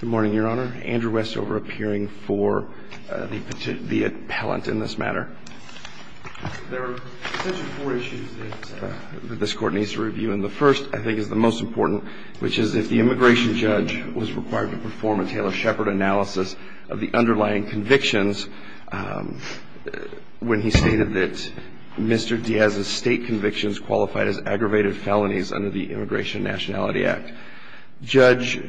Good morning, Your Honor. Andrew Westover appearing for the appellant in this matter. There are essentially four issues that this court needs to review, and the first, I think, is the most important, which is if the immigration judge was required to perform a Taylor-Shepard analysis of the underlying convictions when he stated that Mr. Diaz's state convictions qualified as aggravated felonies under the Immigration Nationality Act. Judge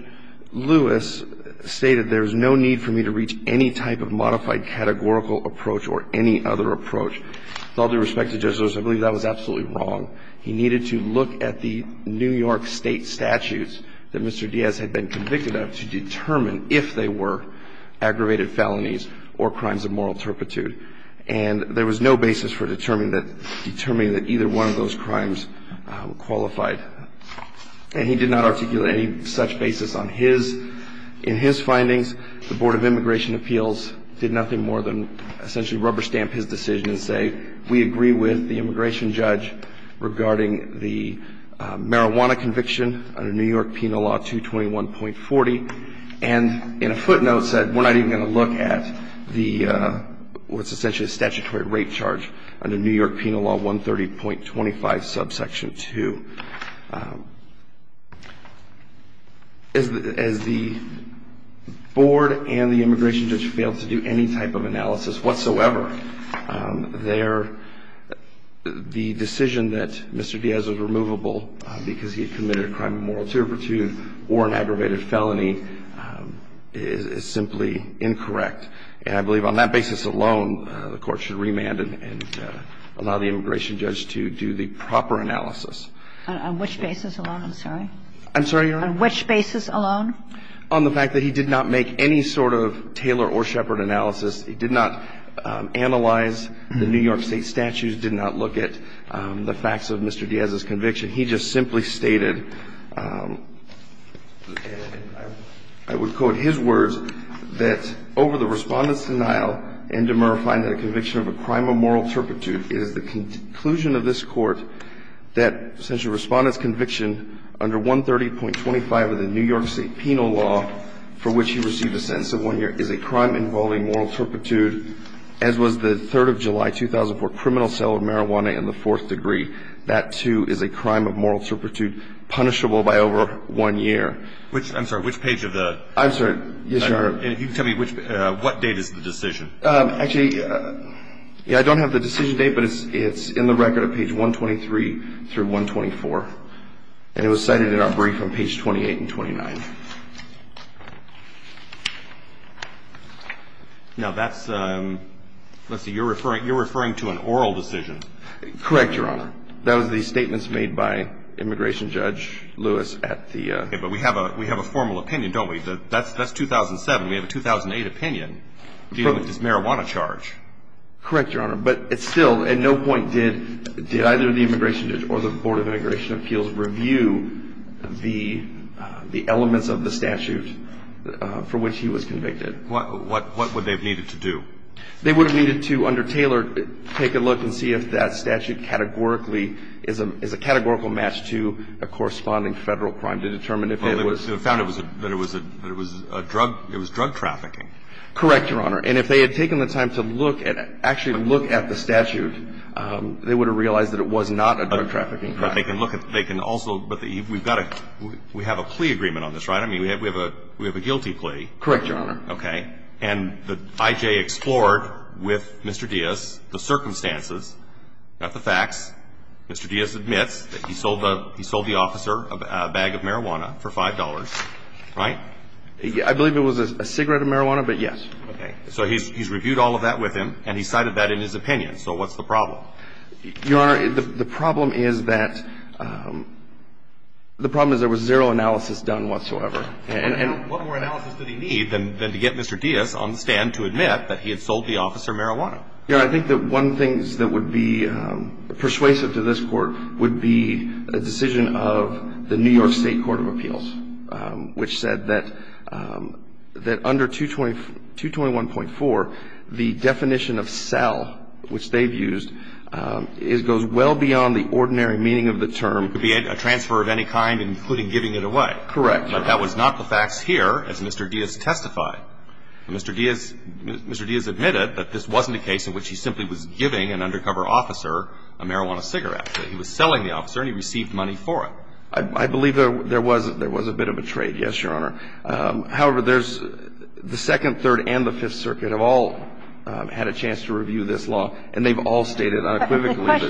Lewis stated there is no need for me to reach any type of modified categorical approach or any other approach. With all due respect to Judge Lewis, I believe that was absolutely wrong. He needed to look at the New York state statutes that Mr. Diaz had been convicted of to determine if they were aggravated felonies or crimes of moral turpitude, and there was no basis for determining that either one of those crimes qualified. And he did not articulate any such basis on his. In his findings, the Board of Immigration Appeals did nothing more than essentially rubber stamp his decision and say we agree with the immigration judge regarding the marijuana conviction under New York Penal Law 221.40, and in a footnote said we're not even going to look at what's essentially a statutory rape charge under New York Penal Law 130.25, subsection 2. As the board and the immigration judge failed to do any type of analysis whatsoever, the decision that Mr. Diaz was removable because he had committed a crime of moral turpitude or an aggravated felony is simply incorrect. And I believe on that basis alone, the Court should remand and allow the immigration judge to do the proper analysis. On which basis alone, I'm sorry? I'm sorry, Your Honor? On which basis alone? On the fact that he did not make any sort of Taylor or Shepard analysis. He did not analyze the New York state statutes, did not look at the facts of Mr. Diaz's conviction. He just simply stated, and I would quote his words, that over the Respondent's denial and demurrifying the conviction of a crime of moral turpitude, it is the conclusion of this Court that essentially Respondent's conviction under 130.25 of the New York State Penal Law for which he received a sentence of one year is a crime involving moral turpitude, as was the 3rd of July 2004 criminal sale of marijuana in the fourth degree. That, too, is a crime of moral turpitude punishable by over one year. Which – I'm sorry. Which page of the – I'm sorry. Yes, Your Honor. If you can tell me which – what date is the decision? Actually, yeah, I don't have the decision date, but it's in the record at page 123 through 124. And it was cited in our brief on page 28 and 29. Now, that's – let's see. You're referring – you're referring to an oral decision. Correct, Your Honor. That was the statements made by Immigration Judge Lewis at the – Okay, but we have a formal opinion, don't we? That's 2007. We have a 2008 opinion dealing with this marijuana charge. Correct, Your Honor. But it's still – at no point did either the Immigration Judge or the Board of Immigration Appeals review the elements of the statute for which he was convicted. What would they have needed to do? They would have needed to, under Taylor, take a look and see if that statute categorically is a – is a categorical match to a corresponding Federal crime to determine if it was – Well, they found it was a – that it was a drug – it was drug trafficking. Correct, Your Honor. And if they had taken the time to look at – actually look at the statute, they would have realized that it was not a drug trafficking crime. But they can look at – they can also – but we've got a – we have a plea agreement on this, right? I mean, we have a – we have a guilty plea. Correct, Your Honor. Okay. And the I.J. explored with Mr. Diaz the circumstances, not the facts. Mr. Diaz admits that he sold the – he sold the officer a bag of marijuana for $5, right? I believe it was a cigarette of marijuana, but yes. Okay. So he's reviewed all of that with him, and he cited that in his opinion. So what's the problem? Your Honor, the problem is that – the problem is there was zero analysis done whatsoever. And what more analysis did he need than to get Mr. Diaz on the stand to admit that he had sold the officer marijuana? Your Honor, I think that one of the things that would be persuasive to this court would be a decision of the New York State Court of Appeals, which said that under 221.4, the definition of sell, which they've used, goes well beyond the ordinary meaning of the term. It could be a transfer of any kind, including giving it away. Correct. But that was not the facts here, as Mr. Diaz testified. Mr. Diaz – Mr. Diaz admitted that this wasn't a case in which he simply was giving an undercover officer a marijuana cigarette. He was selling the officer, and he received money for it. I believe there was – there was a bit of a trade, yes, Your Honor. However, there's – the Second, Third, and the Fifth Circuit have all had a chance to review this law, and they've all stated unequivocally that – And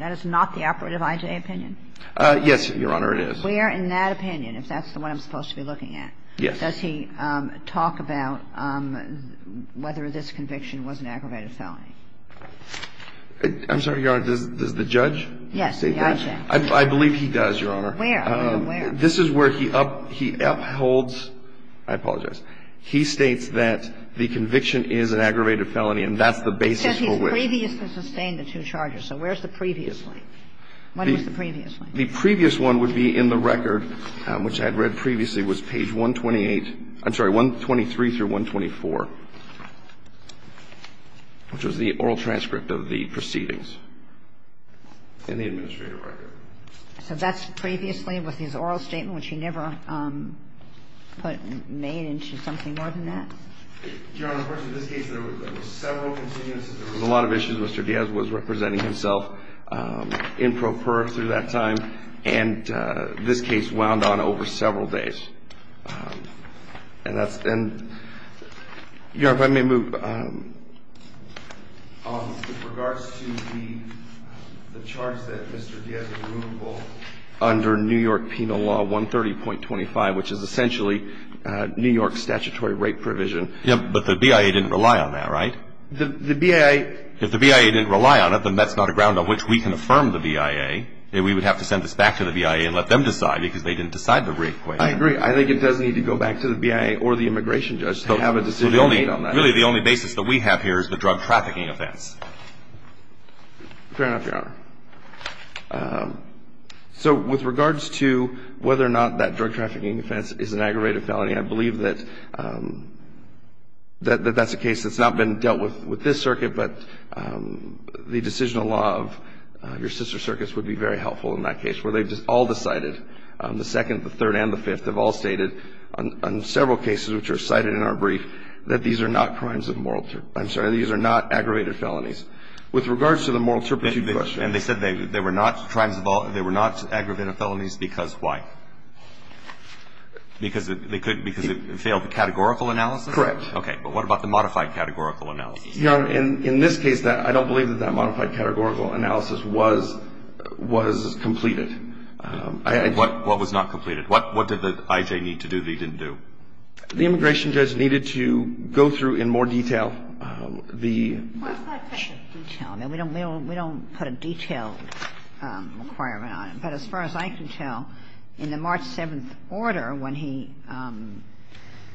that's not the operative I.J. opinion? Yes, Your Honor, it is. Where in that opinion, if that's the one I'm supposed to be looking at, does he talk about whether this conviction was an aggravated felony? I'm sorry, Your Honor. Does the judge say that? Yes, the I.J. I believe he does, Your Honor. Where? This is where he upholds – I apologize. What's the previous? The previous to sustain the two charges. So where's the previously? What was the previously? The previous one would be in the record, which I had read previously was page 128 – I'm sorry, 123 through 124, which was the oral transcript of the proceedings in the administrative record. So that's previously with his oral statement, which he never put – made into something more than that? Your Honor, of course, in this case, there were several contingencies. There were a lot of issues. Mr. Diaz was representing himself in pro per through that time, and this case wound on over several days. And that's – and, Your Honor, if I may move – with regards to the charge that Mr. Diaz is liable under New York Penal Law 130.25, which is essentially New York statutory rape provision. But the BIA didn't rely on that, right? The BIA – If the BIA didn't rely on it, then that's not a ground on which we can affirm the BIA. We would have to send this back to the BIA and let them decide, because they didn't decide the rape claim. I agree. I think it does need to go back to the BIA or the immigration judge to have a decision made on that. Really, the only basis that we have here is the drug trafficking offense. Fair enough, Your Honor. So with regards to whether or not that drug trafficking offense is an aggravated felony, I believe that that's a case that's not been dealt with with this circuit, but the decisional law of your sister circuits would be very helpful in that case, where they've all decided, the second, the third, and the fifth have all stated on several cases which are cited in our brief that these are not crimes of moral – I'm sorry, these are not aggravated felonies. With regards to the moral turpitude question – And they said they were not crimes of – they were not aggravated felonies because why? Because it failed the categorical analysis? Correct. Okay. But what about the modified categorical analysis? Your Honor, in this case, I don't believe that that modified categorical analysis was completed. What was not completed? What did the I.J. need to do that he didn't do? The immigration judge needed to go through in more detail the – Well, it's not a question of detail. We don't put a detailed requirement on it. But as far as I can tell, in the March 7th order, when he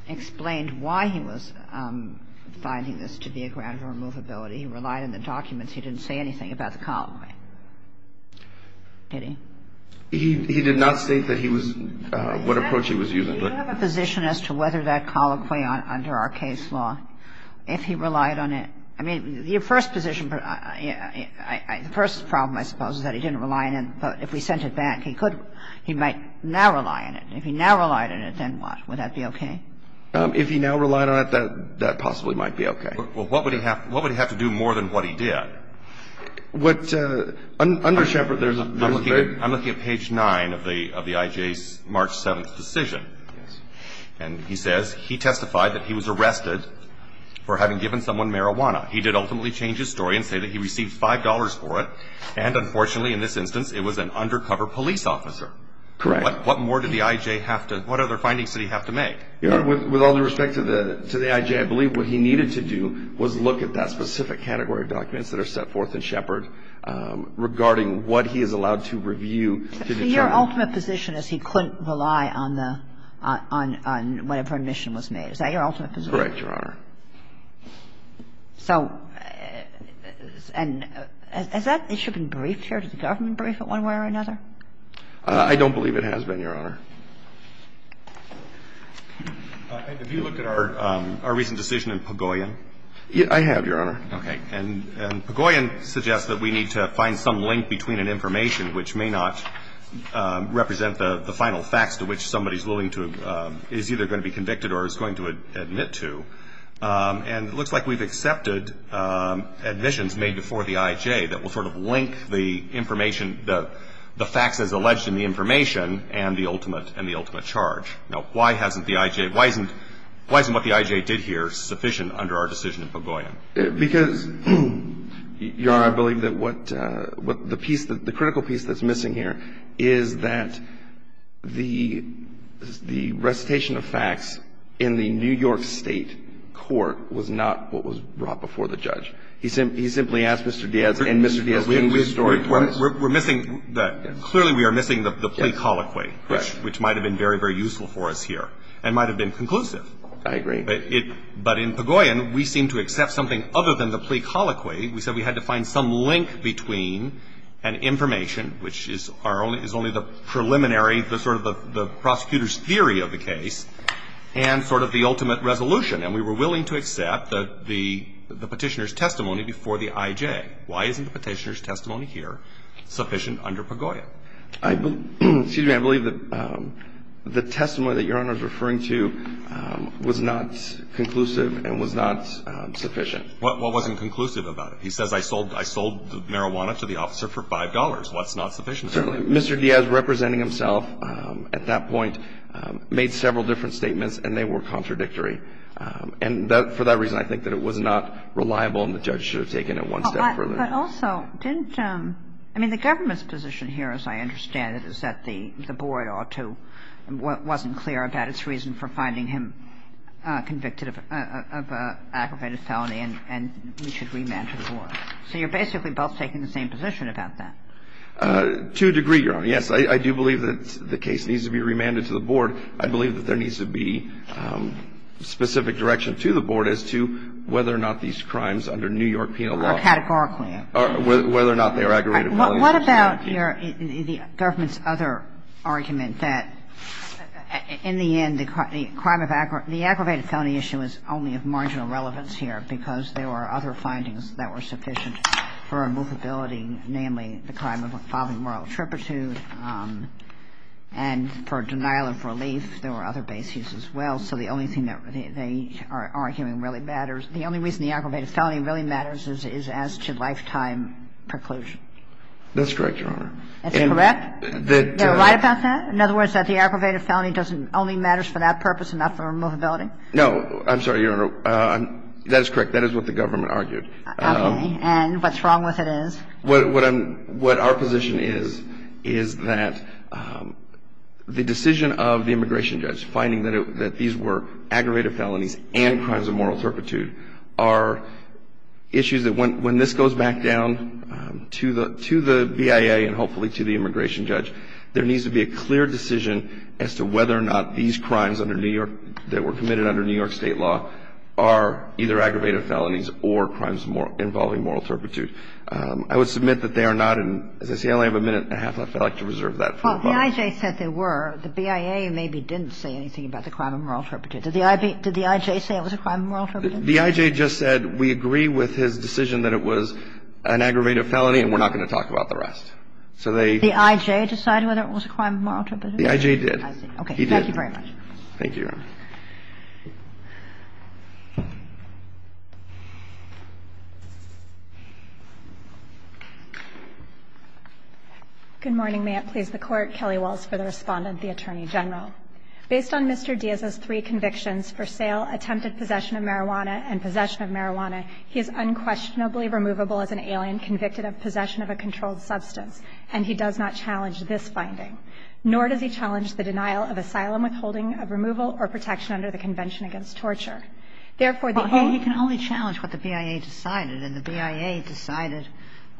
explained why he was finding this to be a ground of removability, he relied on the documents. He didn't say anything about the colloquy. Did he? He did not state that he was – what approach he was using. Do you have a position as to whether that colloquy under our case law, if he relied on it – I mean, your first position – the first problem, I suppose, is that he didn't rely on it. If he relied on it, then what? Would that be okay? If he now relied on it, that possibly might be okay. Well, what would he have to do more than what he did? What – under Shepard, there's a very – I'm looking at page 9 of the I.J.'s March 7th decision. Yes. And he says he testified that he was arrested for having given someone marijuana. He did ultimately change his story and say that he received $5 for it. And, unfortunately, in this instance, it was an undercover police officer. Correct. What more did the I.J. have to – what other findings did he have to make? Your Honor, with all due respect to the I.J., I believe what he needed to do was look at that specific category of documents that are set forth in Shepard regarding what he is allowed to review to determine – So your ultimate position is he couldn't rely on the – on whatever admission was made. Is that your ultimate position? Correct, Your Honor. So – and has that issue been briefed here? Did the government brief it one way or another? I don't believe it has been, Your Honor. Have you looked at our – our recent decision in Pagoyan? I have, Your Honor. Okay. And Pagoyan suggests that we need to find some link between an information which may not represent the final facts to which somebody is willing to – is either going to be convicted or is going to admit to. And it looks like we've accepted admissions made before the I.J. that will sort of link the information – the facts as alleged in the information and the ultimate – and the ultimate charge. Now, why hasn't the I.J. – why isn't – why isn't what the I.J. did here sufficient under our decision in Pagoyan? Because, Your Honor, I believe that what – the piece – the critical piece that's in the New York State court was not what was brought before the judge. He simply asked Mr. Diaz, and Mr. Diaz changed the story for us. We're missing – clearly we are missing the plea colloquy. Correct. Which might have been very, very useful for us here and might have been conclusive. I agree. But in Pagoyan, we seem to accept something other than the plea colloquy. We said we had to find some link between an information which is our only – is only the preliminary – the sort of the prosecutor's theory of the case and sort of the ultimate resolution. And we were willing to accept the Petitioner's testimony before the I.J. Why isn't the Petitioner's testimony here sufficient under Pagoyan? Excuse me. I believe that the testimony that Your Honor is referring to was not conclusive and was not sufficient. What wasn't conclusive about it? What's not sufficient? Certainly, Mr. Diaz representing himself at that point made several different statements and they were contradictory. And for that reason, I think that it was not reliable and the judge should have taken it one step further. But also, didn't – I mean, the government's position here, as I understand it, is that the Board ought to – wasn't clear about its reason for finding him convicted of aggravated felony and he should remand to the Board. So you're basically both taking the same position about that. To a degree, Your Honor, yes. I do believe that the case needs to be remanded to the Board. I believe that there needs to be specific direction to the Board as to whether or not these crimes under New York penal law – Or categorically. Or whether or not they are aggravated felonies. What about your – the government's other argument that in the end, the crime of – the aggravated felony issue is only of marginal relevance here because there were other findings that were sufficient for a movability, namely, the crime of a father moral trepidation. And for denial of relief, there were other bases as well. So the only thing that they are arguing really matters – the only reason the aggravated felony really matters is as to lifetime preclusion. That's correct, Your Honor. That's correct? They're right about that? In other words, that the aggravated felony doesn't – only matters for that purpose and not for movability? I'm sorry, Your Honor. That is correct. That is what the government argued. Okay. And what's wrong with it is? What our position is, is that the decision of the immigration judge, finding that these were aggravated felonies and crimes of moral trepidation, are issues that when this goes back down to the BIA and hopefully to the immigration judge, there needs to be a clear decision as to whether or not these crimes under New York – are either aggravated felonies or crimes involving moral trepidation. I would submit that they are not in – as I say, I only have a minute and a half left. I'd like to reserve that for a moment. Well, the I.J. said they were. The BIA maybe didn't say anything about the crime of moral trepidation. Did the I.J. say it was a crime of moral trepidation? The I.J. just said we agree with his decision that it was an aggravated felony, and we're not going to talk about the rest. So they – Did the I.J. decide whether it was a crime of moral trepidation? The I.J. did. I see. Okay. He did. Thank you very much. Thank you, Your Honor. Good morning. May it please the Court. Kelly Walls for the Respondent, the Attorney General. Based on Mr. Diaz's three convictions, for sale, attempted possession of marijuana, and possession of marijuana, he is unquestionably removable as an alien convicted of possession of a controlled substance, and he does not challenge this finding, nor does he challenge the denial of asylum, withholding of removal, or protection under the Convention Against Torture. Therefore, the only – Well, he can only challenge what the BIA decided, and the BIA decided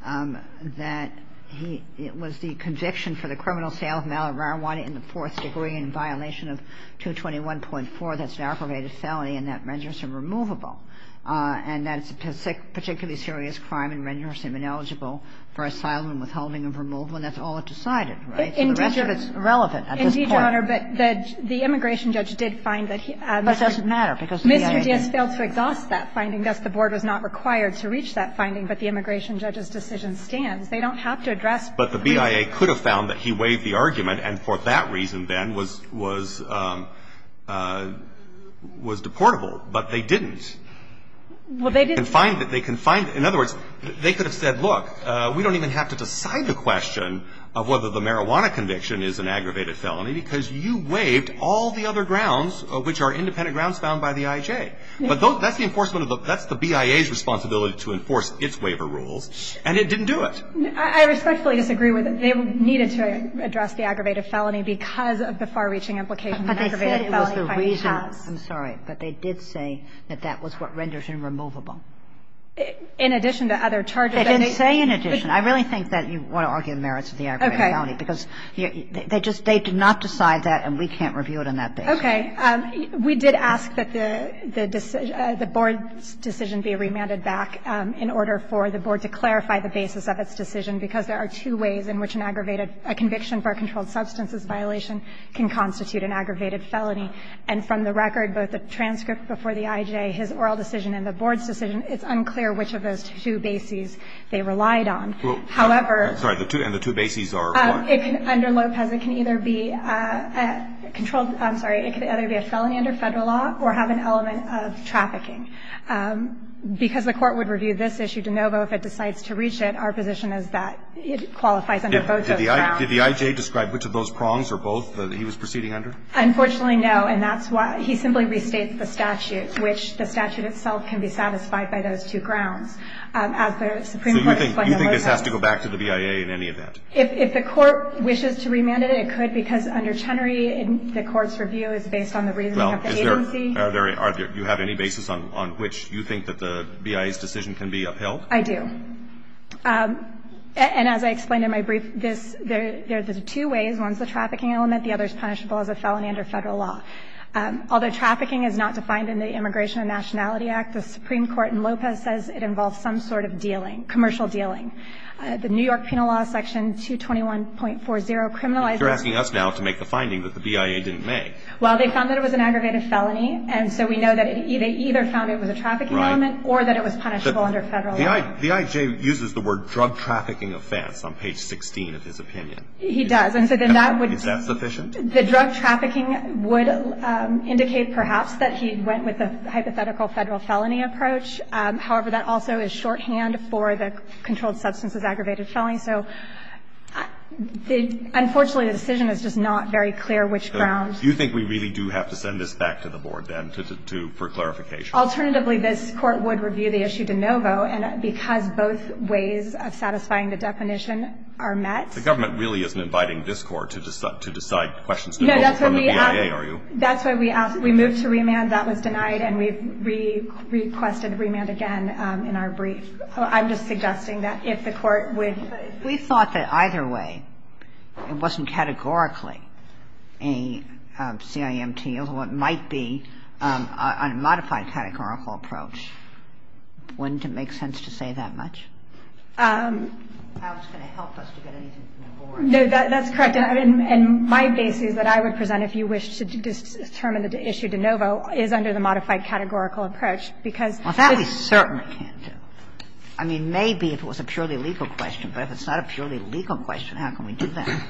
that he – it was the conviction for the criminal sale of marijuana in the fourth degree in violation of 221.4 that's an aggravated felony and that renders him removable, and that it's a particularly serious crime and renders him ineligible for asylum and withholding of removal, and that's all it decided, right? The rest of it's irrelevant at this point. Indeed, Your Honor, but the immigration judge did find that he – But it doesn't matter because the BIA – Mr. Diaz failed to exhaust that finding. Thus, the Board was not required to reach that finding, but the immigration judge's decision stands. They don't have to address – But the BIA could have found that he waived the argument, and for that reason then was – was – was deportable, but they didn't. Well, they didn't – They can find it. They can find – in other words, they could have said, look, we don't even have to decide the question of whether the marijuana conviction is an aggravated felony because you waived all the other grounds, which are independent grounds found by the IJ. But that's the enforcement of the – that's the BIA's responsibility to enforce its waiver rules, and it didn't do it. I respectfully disagree with it. They needed to address the aggravated felony because of the far-reaching implication that aggravated felony finding has. But they said it was the reason – I'm sorry. But they did say that that was what renders him removable. In addition to other charges that they – They didn't say in addition. I really think that you want to argue the merits of the aggravated felony because they just – they did not decide that, and we can't review it on that basis. Okay. We did ask that the – the board's decision be remanded back in order for the board to clarify the basis of its decision, because there are two ways in which an aggravated – a conviction for a controlled substances violation can constitute an aggravated felony, and from the record, both the transcript before the IJ, his oral decision, and the board's decision, it's unclear which of those two bases they relied on. However – Sorry. The two – and the two bases are what? Under Lopez, it can either be a controlled – I'm sorry. It can either be a felony under Federal law or have an element of trafficking. Because the Court would review this issue de novo if it decides to reach it, our position is that it qualifies under both those grounds. Did the IJ describe which of those prongs or both that he was proceeding under? Unfortunately, no, and that's why – he simply restates the statute, which the statute itself can be satisfied by those two grounds. As the Supreme Court explained in Lopez – So you think – you think this has to go back to the BIA in any event? If – if the Court wishes to remand it, it could, because under Chenery, the Court's review is based on the reasoning of the agency. Well, is there – are there – are there – do you have any basis on – on which you think that the BIA's decision can be upheld? I do. And as I explained in my brief, this – there – there's two ways. One's the trafficking element. The other's punishable as a felony under Federal law. Although trafficking is not defined in the Immigration and Nationality Act, the Supreme Court in Lopez says it involves some sort of dealing – commercial dealing. The New York Penal Law section 221.40 criminalizes – You're asking us now to make the finding that the BIA didn't make. Well, they found that it was an aggravated felony, and so we know that it – they either found it was a trafficking element or that it was punishable under Federal law. The I – the IJ uses the word drug trafficking offense on page 16 of his opinion. He does. And so then that would – Is that sufficient? The drug trafficking would indicate perhaps that he went with the hypothetical Federal felony approach. However, that also is shorthand for the controlled substances aggravated felony. So the – unfortunately, the decision is just not very clear which grounds. Do you think we really do have to send this back to the Board, then, to – for clarification? Alternatively, this Court would review the issue de novo, and because both ways of satisfying the definition are met. The government really isn't inviting this Court to decide questions de novo from the BIA, are you? No, that's why we asked – that's why we asked – we moved to remand. That was denied, and we requested remand again in our brief. So I'm just suggesting that if the Court would – But we thought that either way, it wasn't categorically a CIMT, although it might be on a modified categorical approach. Wouldn't it make sense to say that much? I was going to help us to get anything from the Board. No, that's correct. And my basis that I would present if you wish to determine the issue de novo is under the modified categorical approach, because the – Well, that we certainly can't do. I mean, maybe if it was a purely legal question. But if it's not a purely legal question, how can we do that?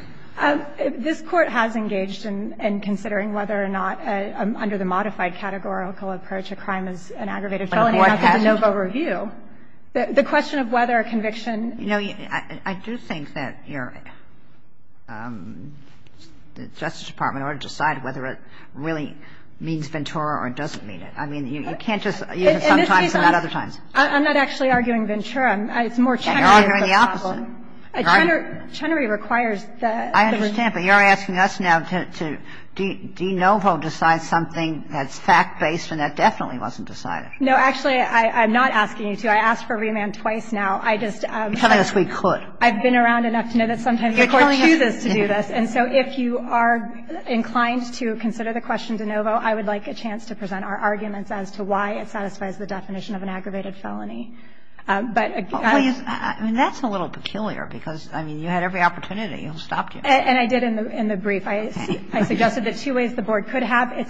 This Court has engaged in considering whether or not, under the modified categorical approach, a crime is an aggravated felony after the de novo review. The question of whether a conviction – You know, I do think that your – the Justice Department ought to decide whether it really means Ventura or doesn't mean it. I mean, you can't just use it sometimes and not other times. I'm not actually arguing Ventura. It's more Chenery. You're arguing the opposite. Chenery requires that – I understand, but you're asking us now to de novo decide something that's fact-based and that definitely wasn't decided. No, actually, I'm not asking you to. I asked for remand twice now. I just – Because we could. I've been around enough to know that sometimes the Court chooses to do this. And so if you are inclined to consider the question de novo, I would like a chance to present our arguments as to why it satisfies the definition of an aggravated felony. But – I mean, that's a little peculiar, because, I mean, you had every opportunity and it stopped you. And I did in the brief. It's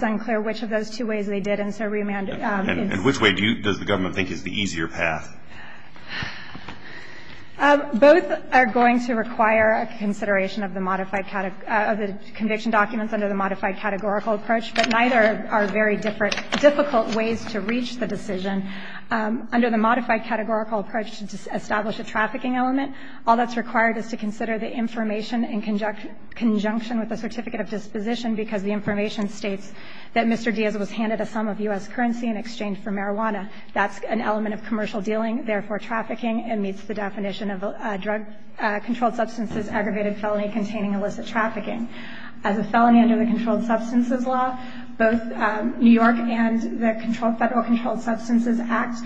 unclear which of those two ways they did, and so remand – And which way do you – does the government think is the easier path? Both are going to require a consideration of the modified – of the conviction documents under the modified categorical approach. But neither are very different – difficult ways to reach the decision. Under the modified categorical approach to establish a trafficking element, all that's required is to consider the information in conjunction with the certificate of disposition, because the information states that Mr. Diaz was handed a sum of U.S. currency in exchange for marijuana. That's an element of commercial dealing, therefore trafficking, and meets the definition of a drug-controlled substances aggravated felony containing illicit trafficking. As a felony under the controlled substances law, both New York and the controlled – Federal Controlled Substances Act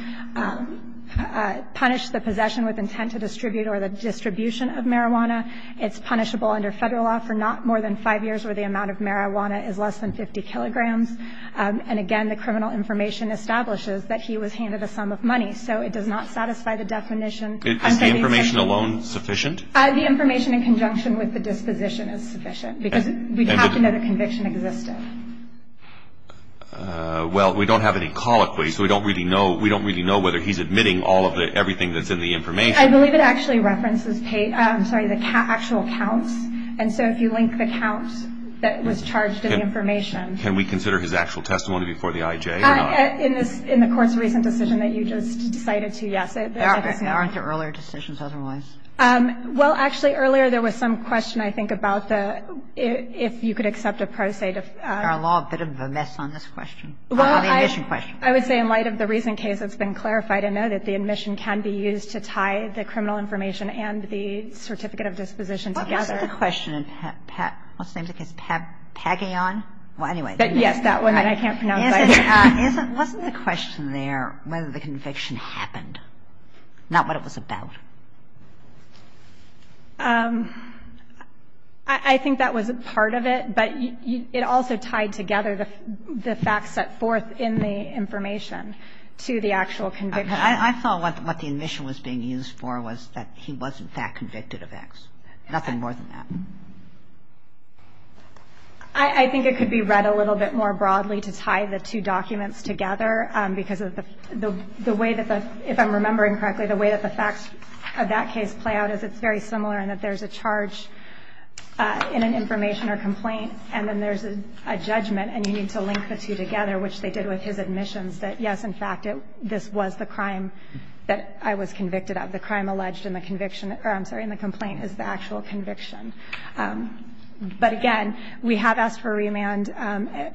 punish the possession with intent to distribute or the distribution of marijuana. It's punishable under Federal law for not more than five years where the amount of marijuana is less than 50 kilograms. And again, the criminal information establishes that he was handed a sum of money, so it does not satisfy the definition. Is the information alone sufficient? The information in conjunction with the disposition is sufficient, because we have to know the conviction existed. Well, we don't have any colloquy, so we don't really know – we don't really know whether he's admitting all of the – everything that's in the information. I believe it actually references – I'm sorry, the actual counts. And so if you link the counts that was charged in the information. Can we consider his actual testimony before the IJ or not? In this – in the Court's recent decision that you just cited to, yes. There aren't the earlier decisions otherwise. Well, actually, earlier there was some question, I think, about the – if you could accept a pro se to – Our law, a bit of a mess on this question. Well, I – On the admission question. I would say in light of the recent case that's been clarified, I know that the admission can be used to tie the criminal information and the certificate of disposition together. Isn't the question in – what's the name of the case? Paggion? Well, anyway. Yes, that one. I can't pronounce it. Isn't – wasn't the question there whether the conviction happened, not what it was about? I think that was part of it, but it also tied together the facts set forth in the information to the actual conviction. I thought what the admission was being used for was that he was, in fact, convicted of X. Nothing more than that. I think it could be read a little bit more broadly to tie the two documents together, because of the way that the – if I'm remembering correctly, the way that the facts of that case play out is it's very similar in that there's a charge in an information or complaint, and then there's a judgment, and you need to link the two together, which they did with his admissions, that, yes, in fact, this was the crime that I was convicted of. The crime alleged in the conviction – or, I'm sorry, in the complaint is the actual conviction. But, again, we have asked for remand.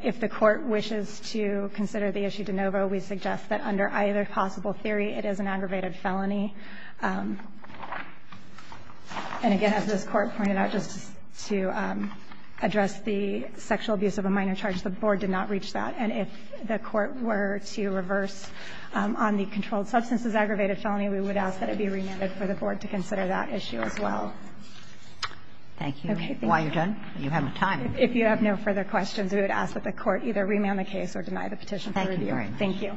If the Court wishes to consider the issue de novo, we suggest that under either possible theory, it is an aggravated felony. And, again, as this Court pointed out, just to address the sexual abuse of a minor charge, the Board did not reach that. And if the Court were to reverse on the controlled substances aggravated felony, we would ask that it be remanded for the Board to consider that issue as well. Thank you. While you're done, you have time. If you have no further questions, we would ask that the Court either remand the case or deny the petition. Thank you very much. Thank you. It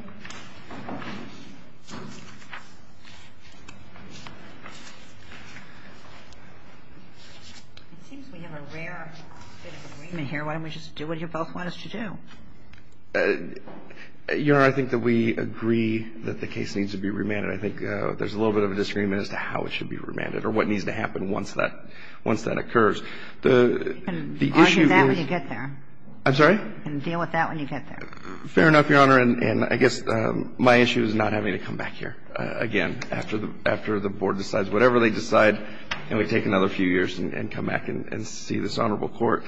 seems we have a rare bit of agreement here. Why don't we just do what you both want us to do? Your Honor, I think that we agree that the case needs to be remanded. I think there's a little bit of a disagreement as to how it should be remanded or what needs to happen once that occurs. You can argue that when you get there. I'm sorry? You can deal with that when you get there. Fair enough, Your Honor. And I guess my issue is not having to come back here again after the Board decides whatever they decide, and we take another few years and come back and see this honorable Court.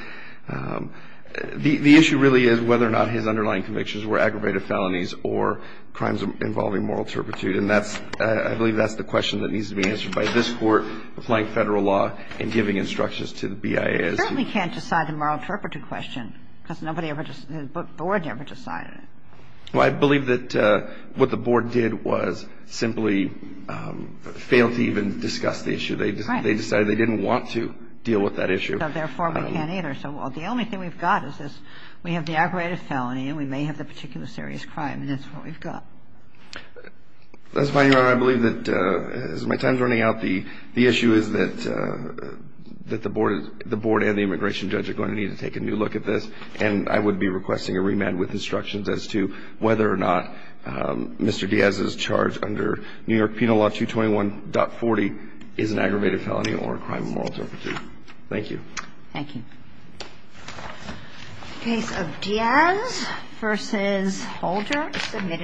The issue really is whether or not his underlying convictions were aggravated felonies or crimes involving moral turpitude. And I believe that's the question that needs to be answered by this Court applying Federal law and giving instructions to the BIA. You certainly can't decide the moral turpitude question because the Board never decided it. Well, I believe that what the Board did was simply fail to even discuss the issue. They decided they didn't want to deal with that issue. Therefore, we can't either. So the only thing we've got is this. We have the aggravated felony and we may have the particular serious crime, and that's what we've got. That's fine, Your Honor. I believe that as my time is running out, the issue is that the Board and the immigration judge are going to need to take a new look at this, and I would be requesting a remand with instructions as to whether or not Mr. Diaz's charge under New York Penal Law 221.40 is an aggravated felony or a crime of moral turpitude. Thank you. Thank you. The case of Diaz v. Holder is submitted.